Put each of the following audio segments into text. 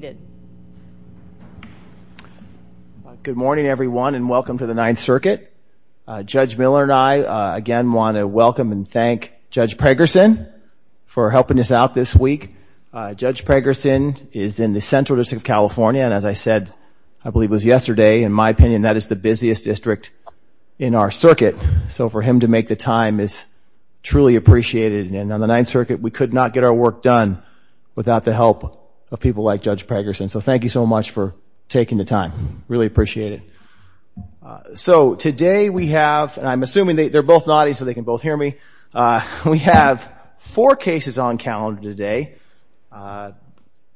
Good morning everyone and welcome to the Ninth Circuit. Judge Miller and I again want to welcome and thank Judge Pregerson for helping us out this week. Judge Pregerson is in the Central District of California and as I said, I believe it was yesterday, in my opinion, that is the busiest district in our circuit. So for him to make the time is truly appreciated. And on the Ninth Circuit, we could not get our work done without the help of people like Judge Pregerson. So thank you so much for taking the time. Really appreciate it. So today we have, and I'm assuming they're both nodding so they can both hear me, we have four cases on calendar today.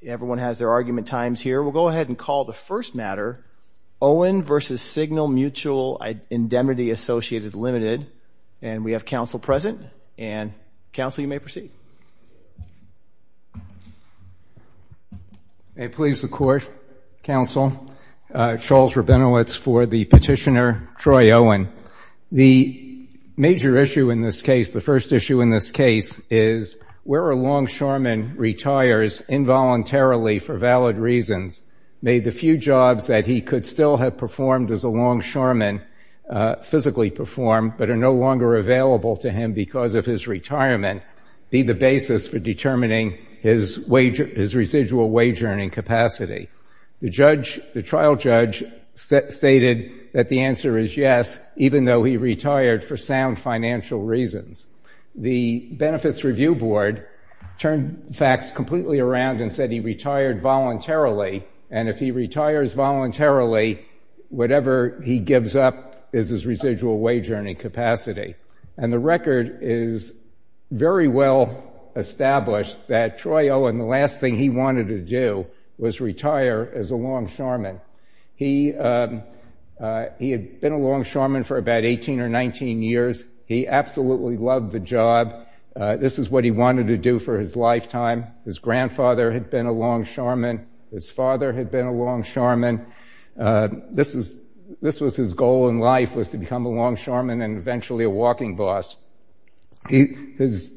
Everyone has their argument times here. We'll go ahead and call the first matter, Owen v. Signal Mutual Indemnity Associated Limited. And we have counsel present and counsel you may proceed. May it please the court, counsel, Charles Rabinowitz for the petitioner, Troy Owen. The major issue in this case, the first issue in this case, is where a longshoreman retires involuntarily for valid reasons may the few jobs that he could still have performed as a longshoreman physically perform but are no longer available to him because of his retirement be the basis for determining his residual wage earning capacity. The trial judge stated that the answer is yes, even though he retired for sound financial reasons. The Benefits Review Board turned facts completely around and said he retired voluntarily. And if he retires voluntarily, whatever he gives up is his residual wage earning capacity. And the record is very well established that Troy Owen, the last thing he wanted to do was retire as a longshoreman. He had been a longshoreman for about 18 or 19 years. He absolutely loved the job. This is what he wanted to do for his lifetime. His grandfather had been a longshoreman. His father had been a longshoreman. This was his goal in life, was to become a longshoreman and eventually a walking boss. His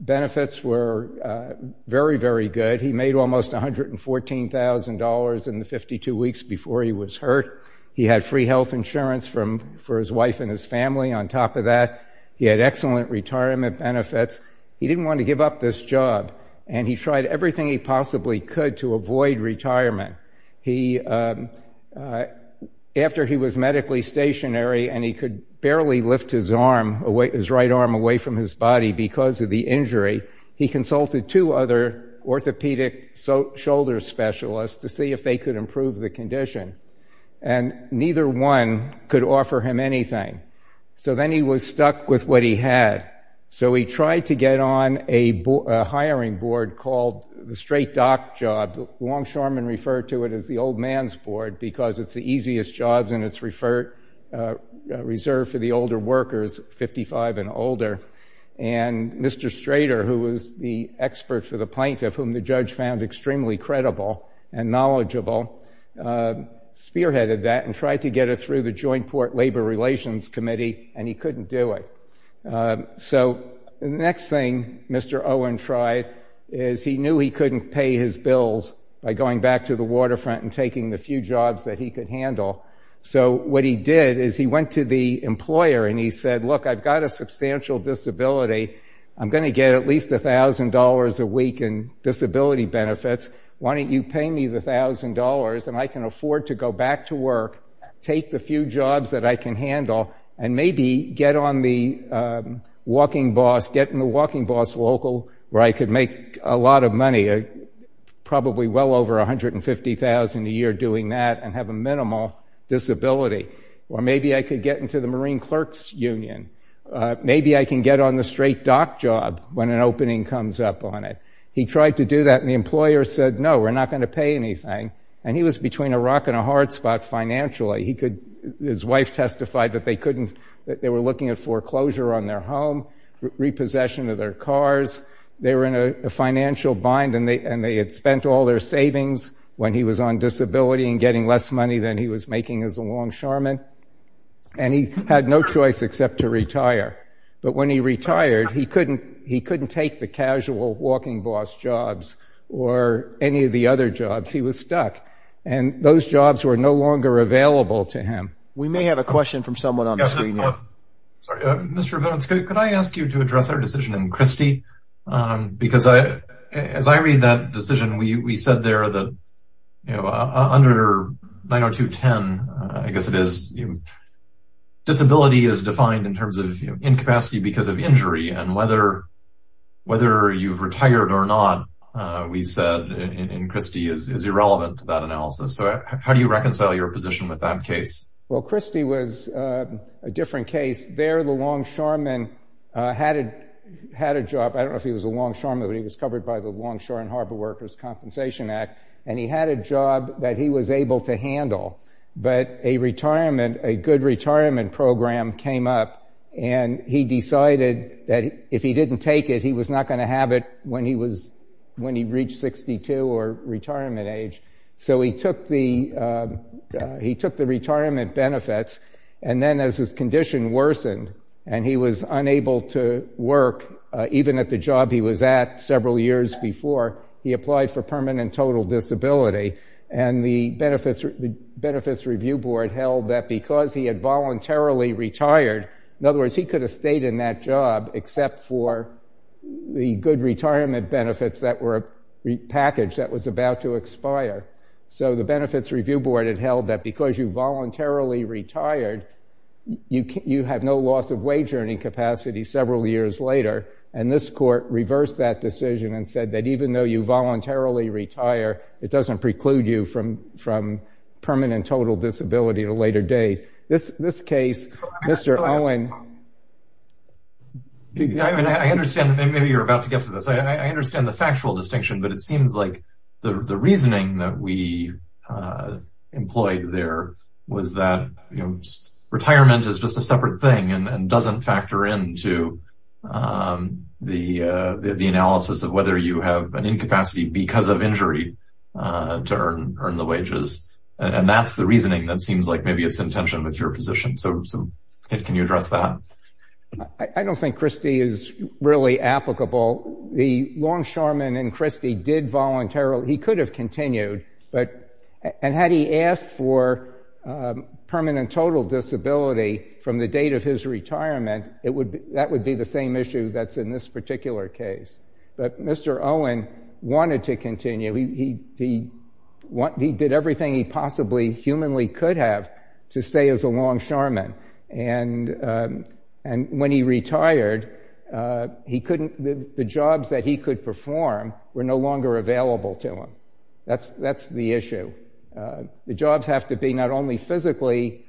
benefits were very, very good. He made almost $114,000 in the 52 weeks before he was hurt. He had free health insurance for his wife and his family on top of that. He had excellent retirement benefits. He didn't want to give up this job, and he tried everything he possibly could to avoid retirement. After he was medically stationary and he could barely lift his right arm away from his body because of the injury, he consulted two other orthopedic shoulder specialists to see if they could improve the condition. And neither one could offer him anything. So then he was stuck with what he had. So he tried to get on a hiring board called the Straight Dock Job. The longshoreman referred to it as the old man's board because it's the easiest jobs and it's reserved for the older workers, 55 and older. And Mr. Strader, who was the expert for the plaintiff, whom the judge found extremely credible and knowledgeable, spearheaded that and tried to get it through the Joint Port Labor Relations Committee, and he couldn't do it. So the next thing Mr. Owen tried is he knew he couldn't pay his bills by going back to the waterfront and taking the few jobs that he could handle. So what he did is he went to the employer and he said, Look, I've got a substantial disability. I'm going to get at least $1,000 a week in disability benefits. Why don't you pay me the $1,000 and I can afford to go back to work, take the few jobs that I can handle, and maybe get on the walking bus, get in the walking bus local where I could make a lot of money, probably well over $150,000 a year doing that and have a minimal disability. Or maybe I could get into the Marine Clerk's Union. Maybe I can get on the Straight Dock Job when an opening comes up on it. He tried to do that and the employer said, No, we're not going to pay anything. And he was between a rock and a hard spot financially. His wife testified that they were looking at foreclosure on their home, repossession of their cars. They were in a financial bind and they had spent all their savings when he was on disability and getting less money than he was making as a longshoreman. And he had no choice except to retire. But when he retired, he couldn't take the casual walking bus jobs or any of the other jobs. He was stuck. And those jobs were no longer available to him. We may have a question from someone on the screen now. Mr. Vance, could I ask you to address our decision in Christie? Because as I read that decision, we said there that under 902.10, I guess it is, disability is defined in terms of incapacity because of injury. And whether you've retired or not, we said in Christie, is irrelevant to that analysis. So how do you reconcile your position with that case? Well, Christie was a different case. There the longshoreman had a job. I don't know if he was a longshoreman, but he was covered by the Longshore and Harbor Workers' Compensation Act. And he had a job that he was able to handle. But a retirement, a good retirement program came up. And he decided that if he didn't take it, he was not going to have it when he reached 62 or retirement age. So he took the retirement benefits. And then as his condition worsened and he was unable to work, even at the job he was at several years before, he applied for permanent total disability. And the Benefits Review Board held that because he had voluntarily retired, in other words, he could have stayed in that job except for the good retirement benefits that were packaged that was about to expire. So the Benefits Review Board had held that because you voluntarily retired, you have no loss of wage earning capacity several years later. And this court reversed that decision and said that even though you voluntarily retire, it doesn't preclude you from permanent total disability at a later date. This case, Mr. Owen. I understand that maybe you're about to get to this. I understand the factual distinction, but it seems like the reasoning that we employed there was that retirement is just a separate thing and doesn't factor into the analysis of whether you have an incapacity because of injury to earn the wages. And that's the reasoning that seems like maybe it's in tension with your position. So can you address that? I don't think Christie is really applicable. The longshoreman in Christie did voluntarily. He could have continued. And had he asked for permanent total disability from the date of his retirement, that would be the same issue that's in this particular case. But Mr. Owen wanted to continue. He did everything he possibly humanly could have to stay as a longshoreman. And when he retired, the jobs that he could perform were no longer available to him. That's the issue. The jobs have to be not only physically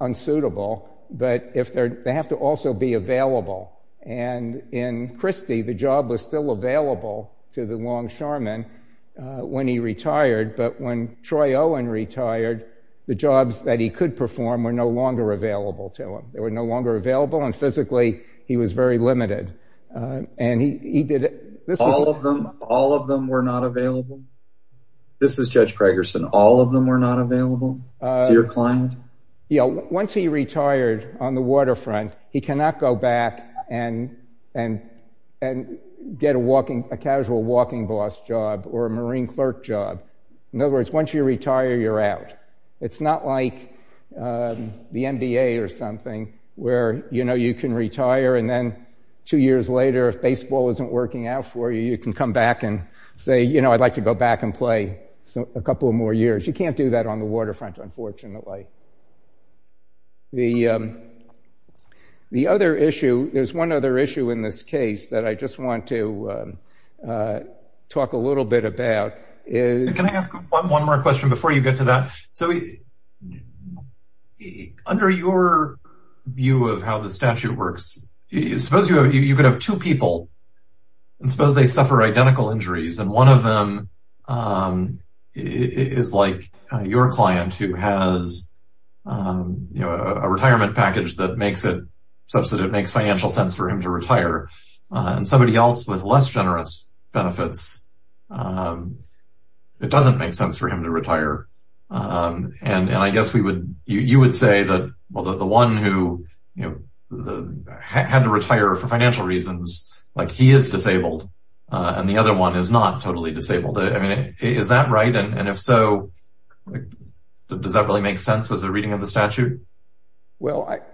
unsuitable, but they have to also be available. And in Christie, the job was still available to the longshoreman when he retired. But when Troy Owen retired, the jobs that he could perform were no longer available to him. They were no longer available, and physically he was very limited. All of them were not available? This is Judge Pragerson. All of them were not available to your client? Once he retired on the waterfront, he cannot go back and get a casual walking boss job or a marine clerk job. In other words, once you retire, you're out. It's not like the NBA or something, where you can retire and then two years later, if baseball isn't working out for you, you can come back and say, I'd like to go back and play a couple of more years. You can't do that on the waterfront, unfortunately. There's one other issue in this case that I just want to talk a little bit about. Can I ask one more question before you get to that? Under your view of how the statute works, suppose you could have two people, and suppose they suffer identical injuries, and one of them is like your client, who has a retirement package that makes it such that it makes financial sense for him to retire, and somebody else with less generous benefits, it doesn't make sense for him to retire. I guess you would say that the one who had to retire for financial reasons, he is disabled, and the other one is not totally disabled. Is that right, and if so, does that really make sense as a reading of the statute?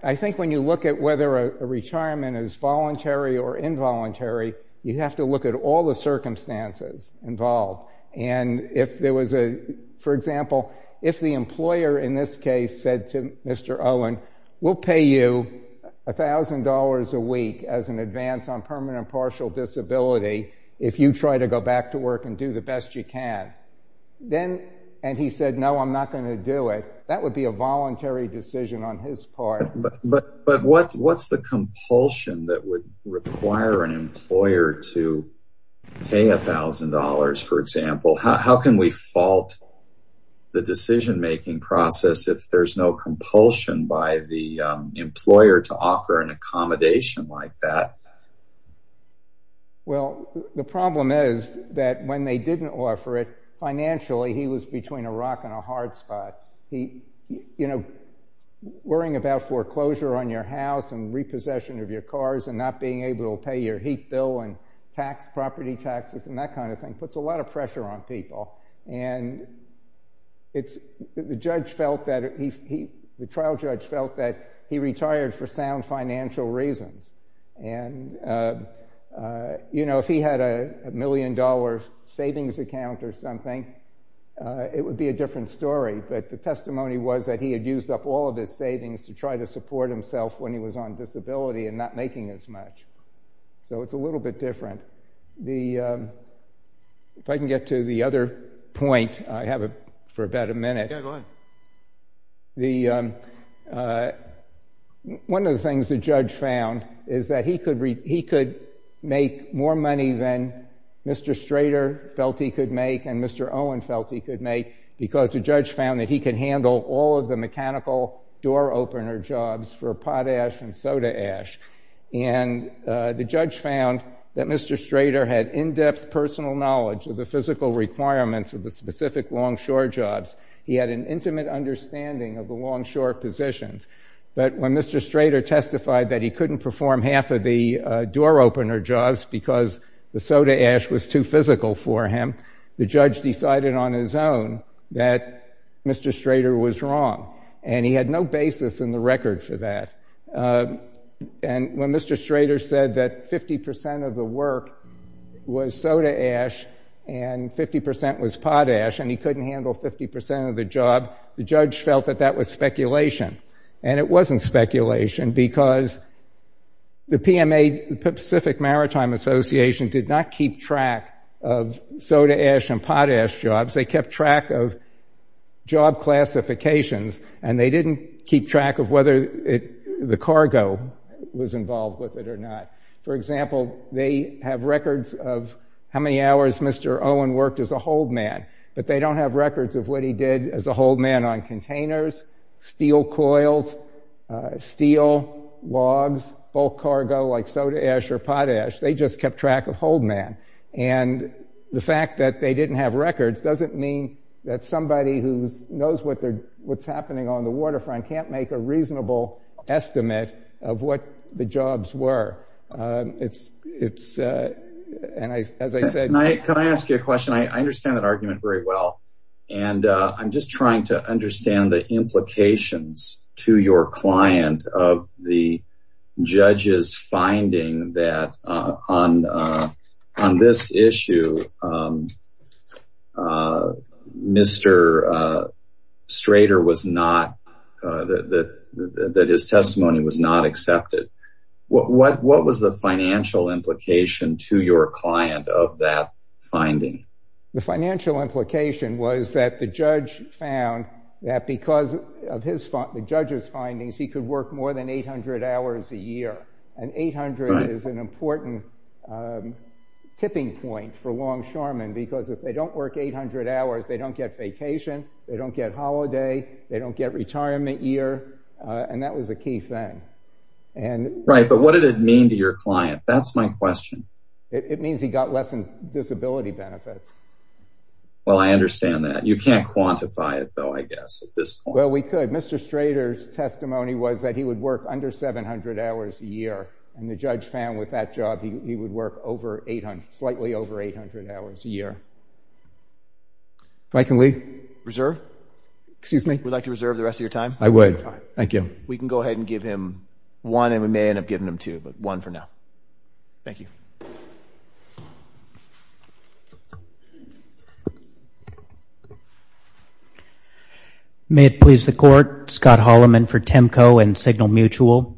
I think when you look at whether a retirement is voluntary or involuntary, you have to look at all the circumstances involved. For example, if the employer in this case said to Mr. Owen, we'll pay you $1,000 a week as an advance on permanent partial disability if you try to go back to work and do the best you can, and he said, no, I'm not going to do it, that would be a voluntary decision on his part. But what's the compulsion that would require an employer to pay $1,000, for example? How can we fault the decision-making process if there's no compulsion by the employer to offer an accommodation like that? Well, the problem is that when they didn't offer it, financially he was between a rock and a hard spot. Worrying about foreclosure on your house and repossession of your cars and not being able to pay your heat bill and property taxes and that kind of thing puts a lot of pressure on people. And the trial judge felt that he retired for sound financial reasons. And, you know, if he had a million-dollar savings account or something, it would be a different story. But the testimony was that he had used up all of his savings to try to support himself when he was on disability and not making as much. So it's a little bit different. If I can get to the other point, I have it for about a minute. Yeah, go ahead. One of the things the judge found is that he could make more money than Mr. Strader felt he could make and Mr. Owen felt he could make because the judge found that he could handle all of the mechanical door-opener jobs for potash and soda ash. And the judge found that Mr. Strader had in-depth personal knowledge of the physical requirements of the specific longshore jobs. He had an intimate understanding of the longshore positions. But when Mr. Strader testified that he couldn't perform half of the door-opener jobs because the soda ash was too physical for him, the judge decided on his own that Mr. Strader was wrong. And he had no basis in the record for that. And when Mr. Strader said that 50% of the work was soda ash and 50% was potash and he couldn't handle 50% of the job, the judge felt that that was speculation. And it wasn't speculation because the PMA, the Pacific Maritime Association, did not keep track of soda ash and potash jobs. They kept track of job classifications and they didn't keep track of whether the cargo was involved with it or not. For example, they have records of how many hours Mr. Owen worked as a holdman. But they don't have records of what he did as a holdman on containers, steel coils, steel logs, bulk cargo like soda ash or potash. They just kept track of holdman. And the fact that they didn't have records doesn't mean that somebody who knows what's happening on the waterfront can't make a reasonable estimate of what the jobs were. Can I ask you a question? I understand that argument very well. And I'm just trying to understand the implications to your client of the judge's finding that on this issue, Mr. Strader, that his testimony was not accepted. What was the financial implication to your client of that finding? The financial implication was that the judge found that because of the judge's findings, he could work more than 800 hours a year. And 800 is an important tipping point for longshoremen because if they don't work 800 hours, they don't get vacation, they don't get holiday, they don't get retirement year. And that was a key thing. Right, but what did it mean to your client? That's my question. It means he got less in disability benefits. Well, I understand that. You can't quantify it, though, I guess, at this point. Well, we could. But Mr. Strader's testimony was that he would work under 700 hours a year, and the judge found with that job he would work slightly over 800 hours a year. If I can leave? Reserve? Excuse me? Would you like to reserve the rest of your time? I would. Thank you. We can go ahead and give him one, and we may end up giving him two, but one for now. Thank you. Thank you. May it please the Court. Scott Holloman for Temco and Signal Mutual.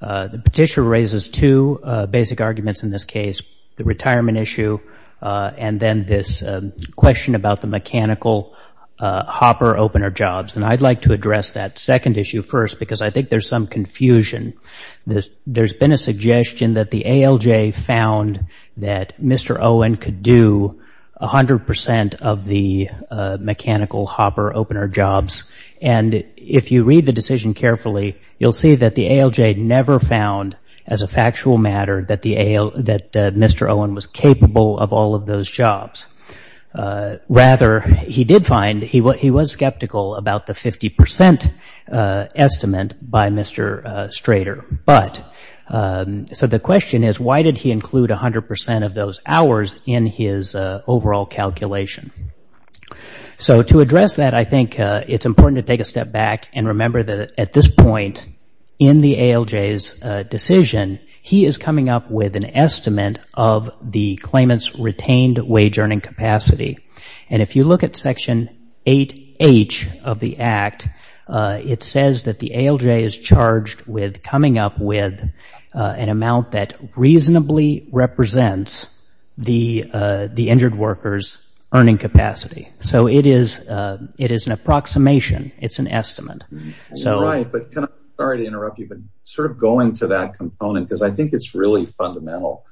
The petitioner raises two basic arguments in this case, the retirement issue and then this question about the mechanical hopper-opener jobs. And I'd like to address that second issue first because I think there's some confusion. There's been a suggestion that the ALJ found that Mr. Owen could do 100 percent of the mechanical hopper-opener jobs, and if you read the decision carefully, you'll see that the ALJ never found, as a factual matter, that Mr. Owen was capable of all of those jobs. Rather, he did find he was skeptical about the 50 percent estimate by Mr. Strader. So the question is, why did he include 100 percent of those hours in his overall calculation? So to address that, I think it's important to take a step back and remember that at this point in the ALJ's decision, he is coming up with an estimate of the claimant's retained wage earning capacity. And if you look at Section 8H of the Act, it says that the ALJ is charged with coming up with an amount that reasonably represents the injured worker's earning capacity. So it is an approximation. It's an estimate. Sorry to interrupt you, but going to that component, because I think it's really fundamental.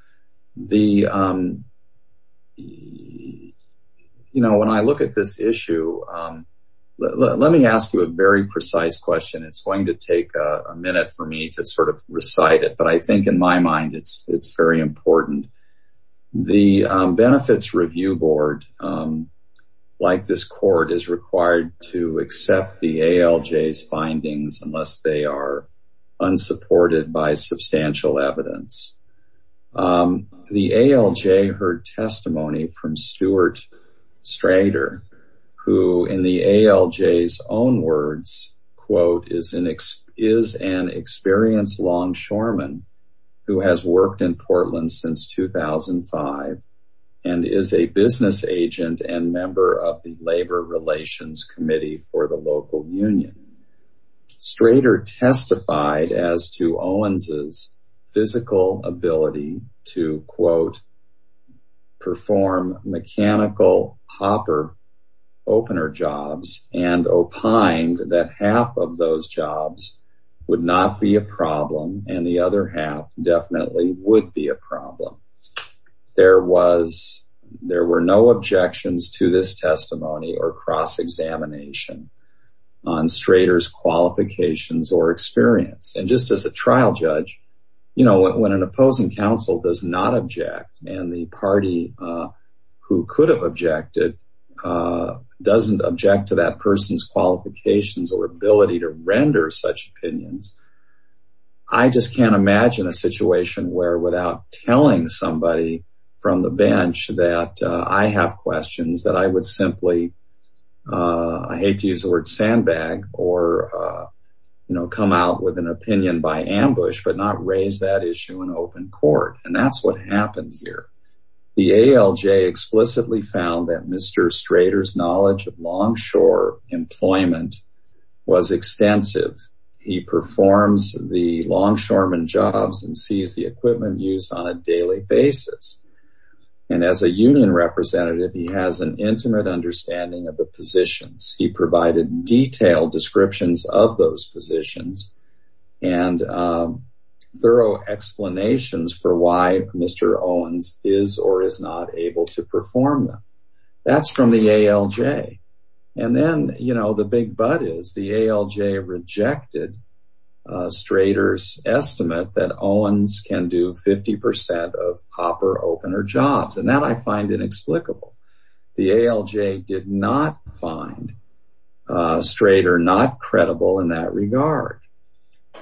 When I look at this issue, let me ask you a very precise question. It's going to take a minute for me to recite it, but I think in my mind it's very important. The Benefits Review Board, like this court, is required to accept the ALJ's findings unless they are unsupported by substantial evidence. The ALJ heard testimony from Stuart Strader, who in the ALJ's own words, quote, is an experienced longshoreman who has worked in Portland since 2005 and is a business agent and member of the Labor Relations Committee for the local union. Strader testified as to Owens' physical ability to, quote, perform mechanical hopper opener jobs and opined that half of those jobs would not be a problem and the other half definitely would be a problem. There were no objections to this testimony or cross-examination on Strader's qualifications or experience. And just as a trial judge, you know, when an opposing counsel does not object and the party who could have objected doesn't object to that person's qualifications or ability to render such opinions, I just can't imagine a situation where without telling somebody from the bench that I have questions, that I would simply, I hate to use the word, sandbag or, you know, come out with an opinion by ambush but not raise that issue in open court. And that's what happens here. The ALJ explicitly found that Mr. Strader's knowledge of longshore employment was extensive. He performs the longshoreman jobs and sees the equipment used on a daily basis. And as a union representative, he has an intimate understanding of the positions. He provided detailed descriptions of those positions and thorough explanations for why Mr. Owens is or is not able to perform them. That's from the ALJ. And then, you know, the big but is the ALJ rejected Strader's estimate that Owens can do 50% of hopper opener jobs. And that I find inexplicable. The ALJ did not find Strader not credible in that regard.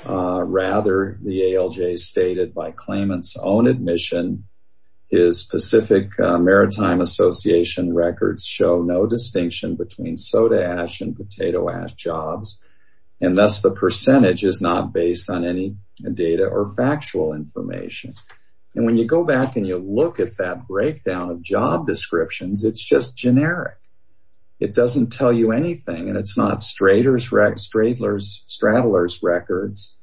Rather, the ALJ stated by claimant's own admission, his Pacific Maritime Association records show no distinction between soda ash and potato ash jobs. And thus the percentage is not based on any data or factual information. And when you go back and you look at that breakdown of job descriptions, it's just generic. It doesn't tell you anything. And it's not Strader's, Stradler's, Stradler's records.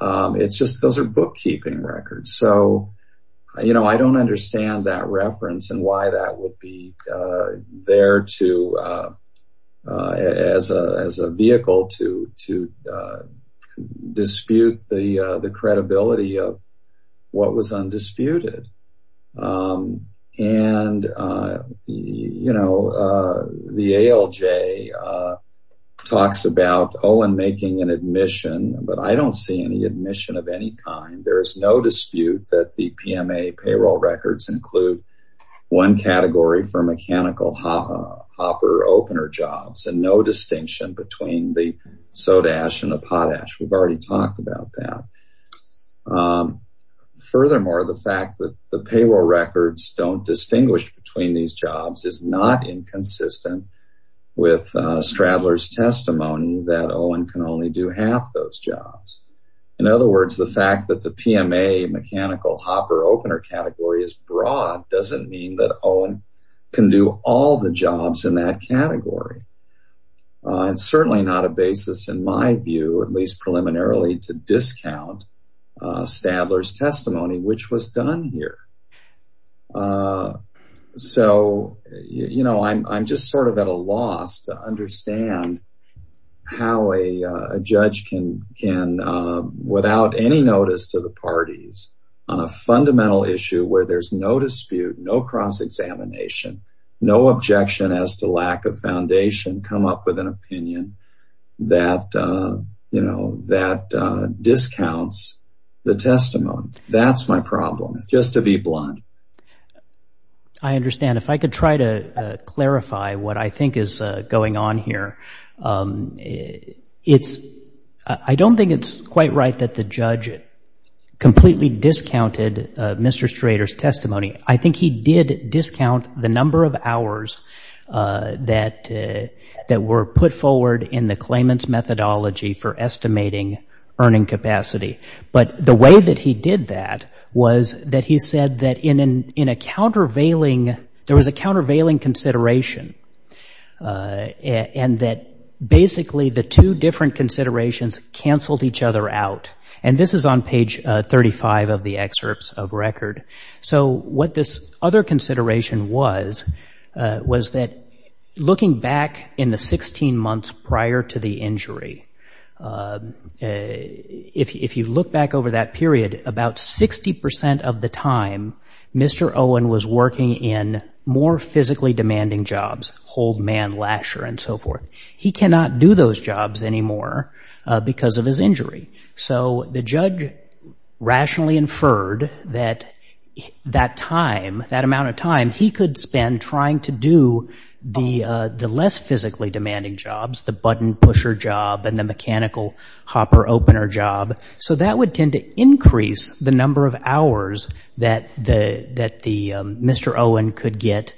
It's just those are bookkeeping records. So, you know, I don't understand that reference and why that would be there to as a vehicle to to dispute the credibility of what was undisputed. And, you know, the ALJ talks about Owen making an admission, but I don't see any admission of any kind. There is no dispute that the PMA payroll records include one category for mechanical hopper opener jobs and no distinction between the soda ash and the potash. We've already talked about that. Furthermore, the fact that the payroll records don't distinguish between these jobs is not inconsistent with Stradler's testimony that Owen can only do half those jobs. In other words, the fact that the PMA mechanical hopper opener category is broad doesn't mean that Owen can do all the jobs in that category. And certainly not a basis, in my view, at least preliminarily to discount Stadler's testimony, which was done here. So, you know, I'm just sort of at a loss to understand how a judge can can without any notice to the parties on a fundamental issue where there's no dispute, no cross-examination, no objection as to lack of foundation, come up with an opinion that, you know, that discounts the testimony. That's my problem, just to be blunt. I understand. If I could try to clarify what I think is going on here, it's I don't think it's quite right that the judge completely discounted Mr. Strader's testimony. I think he did discount the number of hours that were put forward in the claimant's methodology for estimating earning capacity. But the way that he did that was that he said that in a countervailing there was a countervailing consideration and that basically the two different considerations canceled each other out. And this is on page 35 of the excerpts of record. So what this other consideration was, was that looking back in the 16 months prior to the injury, if you look back over that period, about 60 percent of the time Mr. Owen was working in more physically demanding jobs, holdman, lasher, and so forth. He cannot do those jobs anymore because of his injury. So the judge rationally inferred that that time, that amount of time, he could spend trying to do the less physically demanding jobs, the button pusher job and the mechanical hopper opener job. So that would tend to increase the number of hours that Mr. Owen could get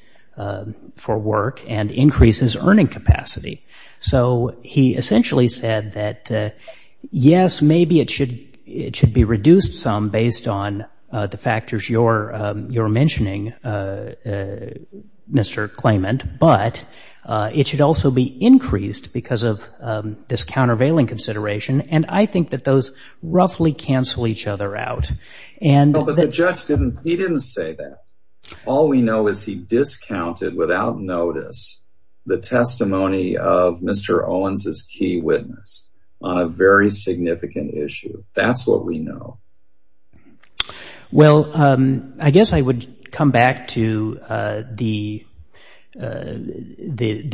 for work and increase his earning capacity. So he essentially said that, yes, maybe it should be reduced some based on the factors you're mentioning, Mr. Claimant, but it should also be increased because of this countervailing consideration. And I think that those roughly cancel each other out. But the judge didn't, he didn't say that. All we know is he discounted without notice the testimony of Mr. Owens' key witness on a very significant issue. That's what we know. Well, I guess I would come back to the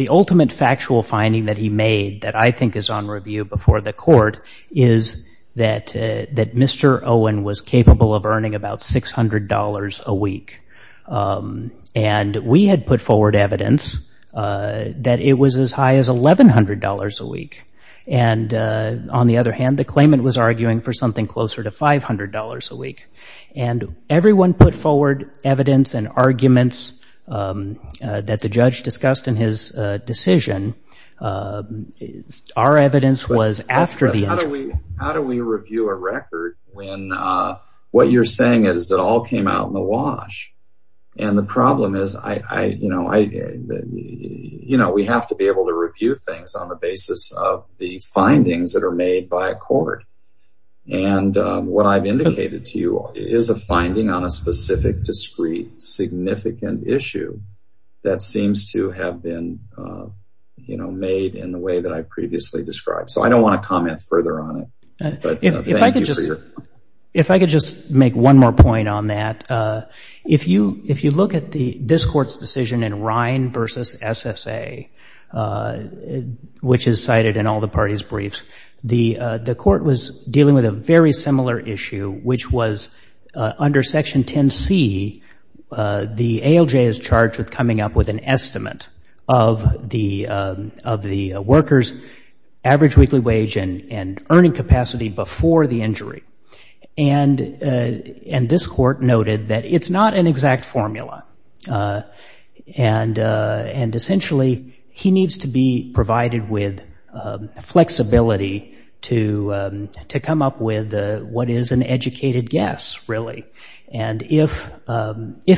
ultimate factual finding that he made that I think is on review before the court is that Mr. Owen was capable of earning about $600 a week. And we had put forward evidence that it was as high as $1,100 a week. And on the other hand, the claimant was arguing for something closer to $500 a week. And everyone put forward evidence and arguments that the judge discussed in his decision. Our evidence was after the. How do we review a record when what you're saying is it all came out in the wash? And the problem is, you know, we have to be able to review things on the basis of the findings that are made by a court. And what I've indicated to you is a finding on a specific, discreet, significant issue that seems to have been made in the way that I previously described. So I don't want to comment further on it. If I could just make one more point on that. If you look at this court's decision in Rhine versus SSA, which is cited in all the parties' briefs, the court was dealing with a very similar issue, which was under Section 10C, the ALJ is charged with coming up with an estimate of the worker's average weekly wage and earning capacity before the injury. And this court noted that it's not an exact formula. And essentially, he needs to be provided with flexibility to come up with what is an educated guess, really. And if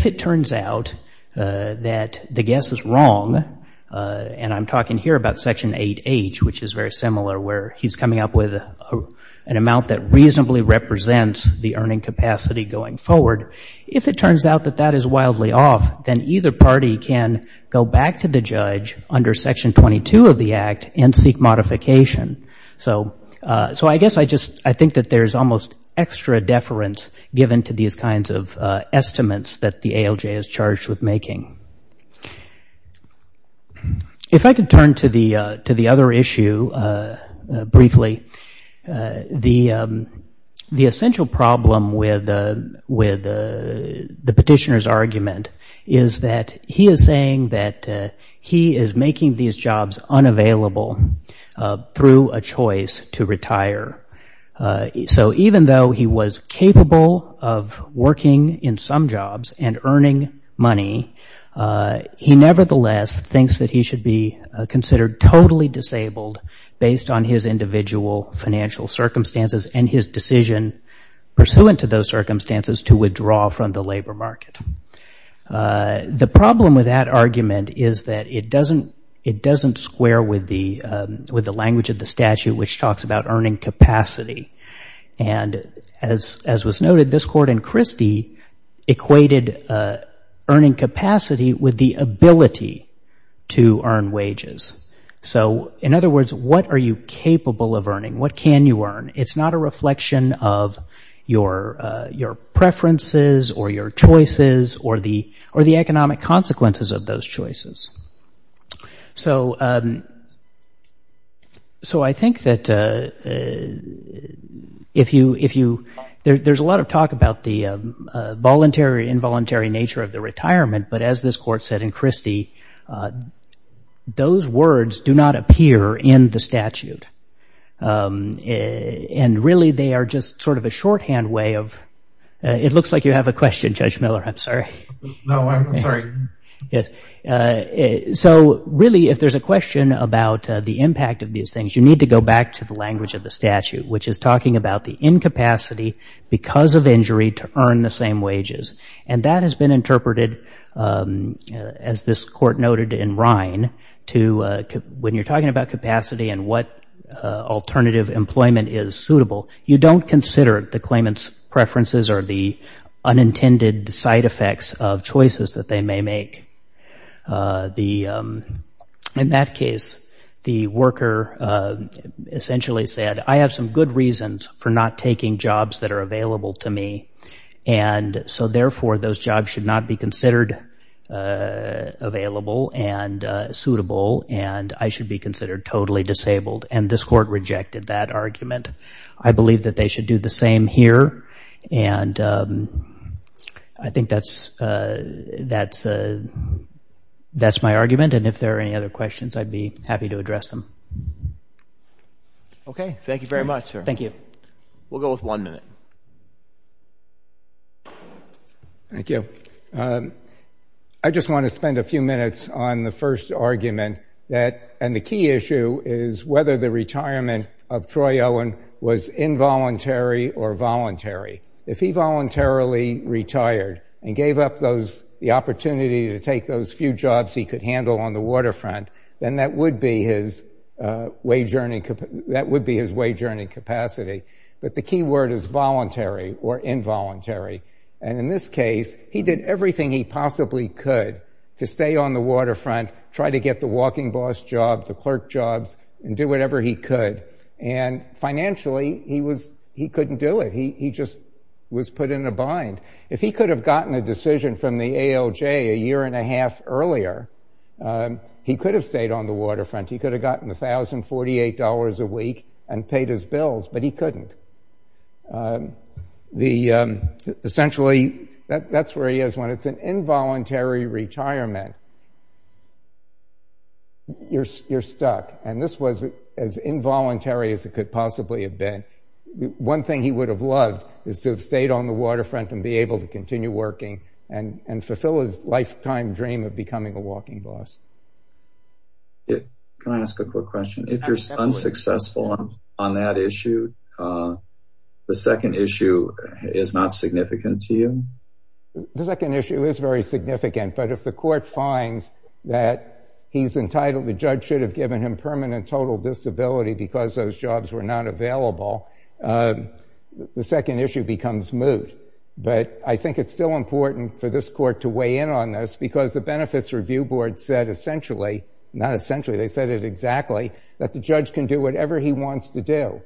it turns out that the guess is wrong, and I'm talking here about Section 8H, which is very similar, where he's coming up with an amount that reasonably represents the earning capacity going forward, if it turns out that that is wildly off, then either party can go back to the judge under Section 22 of the Act and seek modification. So I guess I just think that there's almost extra deference given to these kinds of estimates that the ALJ is charged with making. If I could turn to the other issue briefly, the essential problem with the petitioner's argument is that he is saying that he is making these jobs unavailable through a choice to retire. So even though he was capable of working in some jobs and earning money, he nevertheless thinks that he should be considered totally disabled based on his individual financial circumstances and his decision pursuant to those circumstances to withdraw from the labor market. The problem with that argument is that it doesn't square with the language of the statute, which talks about earning capacity. And as was noted, this Court in Christie equated earning capacity with the ability to earn wages. So in other words, what are you capable of earning? What can you earn? It's not a reflection of your preferences or your choices or the economic consequences of those choices. So I think that there's a lot of talk about the voluntary, involuntary nature of the retirement, but as this Court said in Christie, those words do not appear in the statute. And really, they are just sort of a shorthand way of – it looks like you have a question, Judge Miller. I'm sorry. No, I'm sorry. So really, if there's a question about the impact of these things, you need to go back to the language of the statute, which is talking about the incapacity because of injury to earn the same wages. And that has been interpreted, as this Court noted in Rhine, to when you're talking about capacity and what alternative employment is suitable, you don't consider the claimant's preferences or the unintended side effects of choices that they may make. In that case, the worker essentially said, I have some good reasons for not taking jobs that are available to me. And so therefore, those jobs should not be considered available and suitable, and I should be considered totally disabled. And this Court rejected that argument. I believe that they should do the same here, and I think that's my argument. And if there are any other questions, I'd be happy to address them. Okay. Thank you very much, sir. Thank you. We'll go with one minute. Thank you. I just want to spend a few minutes on the first argument, and the key issue is whether the retirement of Troy Owen was involuntary or voluntary. If he voluntarily retired and gave up the opportunity to take those few jobs he could handle on the waterfront, then that would be his wage-earning capacity. But the key word is voluntary or involuntary. And in this case, he did everything he possibly could to stay on the waterfront, try to get the walking boss jobs, the clerk jobs, and do whatever he could. And financially, he couldn't do it. He just was put in a bind. If he could have gotten a decision from the ALJ a year and a half earlier, he could have stayed on the waterfront. He could have gotten $1,048 a week and paid his bills, but he couldn't. Essentially, that's where he is. When it's an involuntary retirement, you're stuck. And this was as involuntary as it could possibly have been. One thing he would have loved is to have stayed on the waterfront and be able to continue working and fulfill his lifetime dream of becoming a walking boss. Can I ask a quick question? If you're unsuccessful on that issue, the second issue is not significant to you? The second issue is very significant. But if the court finds that he's entitled, the judge should have given him permanent total disability because those jobs were not available, the second issue becomes moot. But I think it's still important for this court to weigh in on this because the Benefits Review Board said essentially, not essentially, they said it exactly, that the judge can do whatever he wants to do.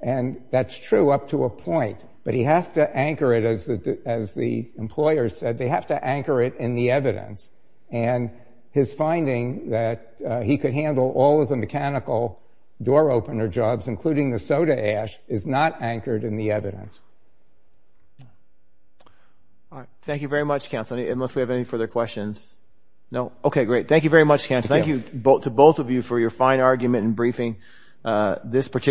And that's true up to a point. But he has to anchor it, as the employers said, they have to anchor it in the evidence. And his finding that he could handle all of the mechanical door opener jobs, including the soda ash, is not anchored in the evidence. Thank you very much, counsel. Unless we have any further questions? No? Okay, great. Thank you very much, counsel. Thank you to both of you for your fine argument and briefing. We'll move on to the next.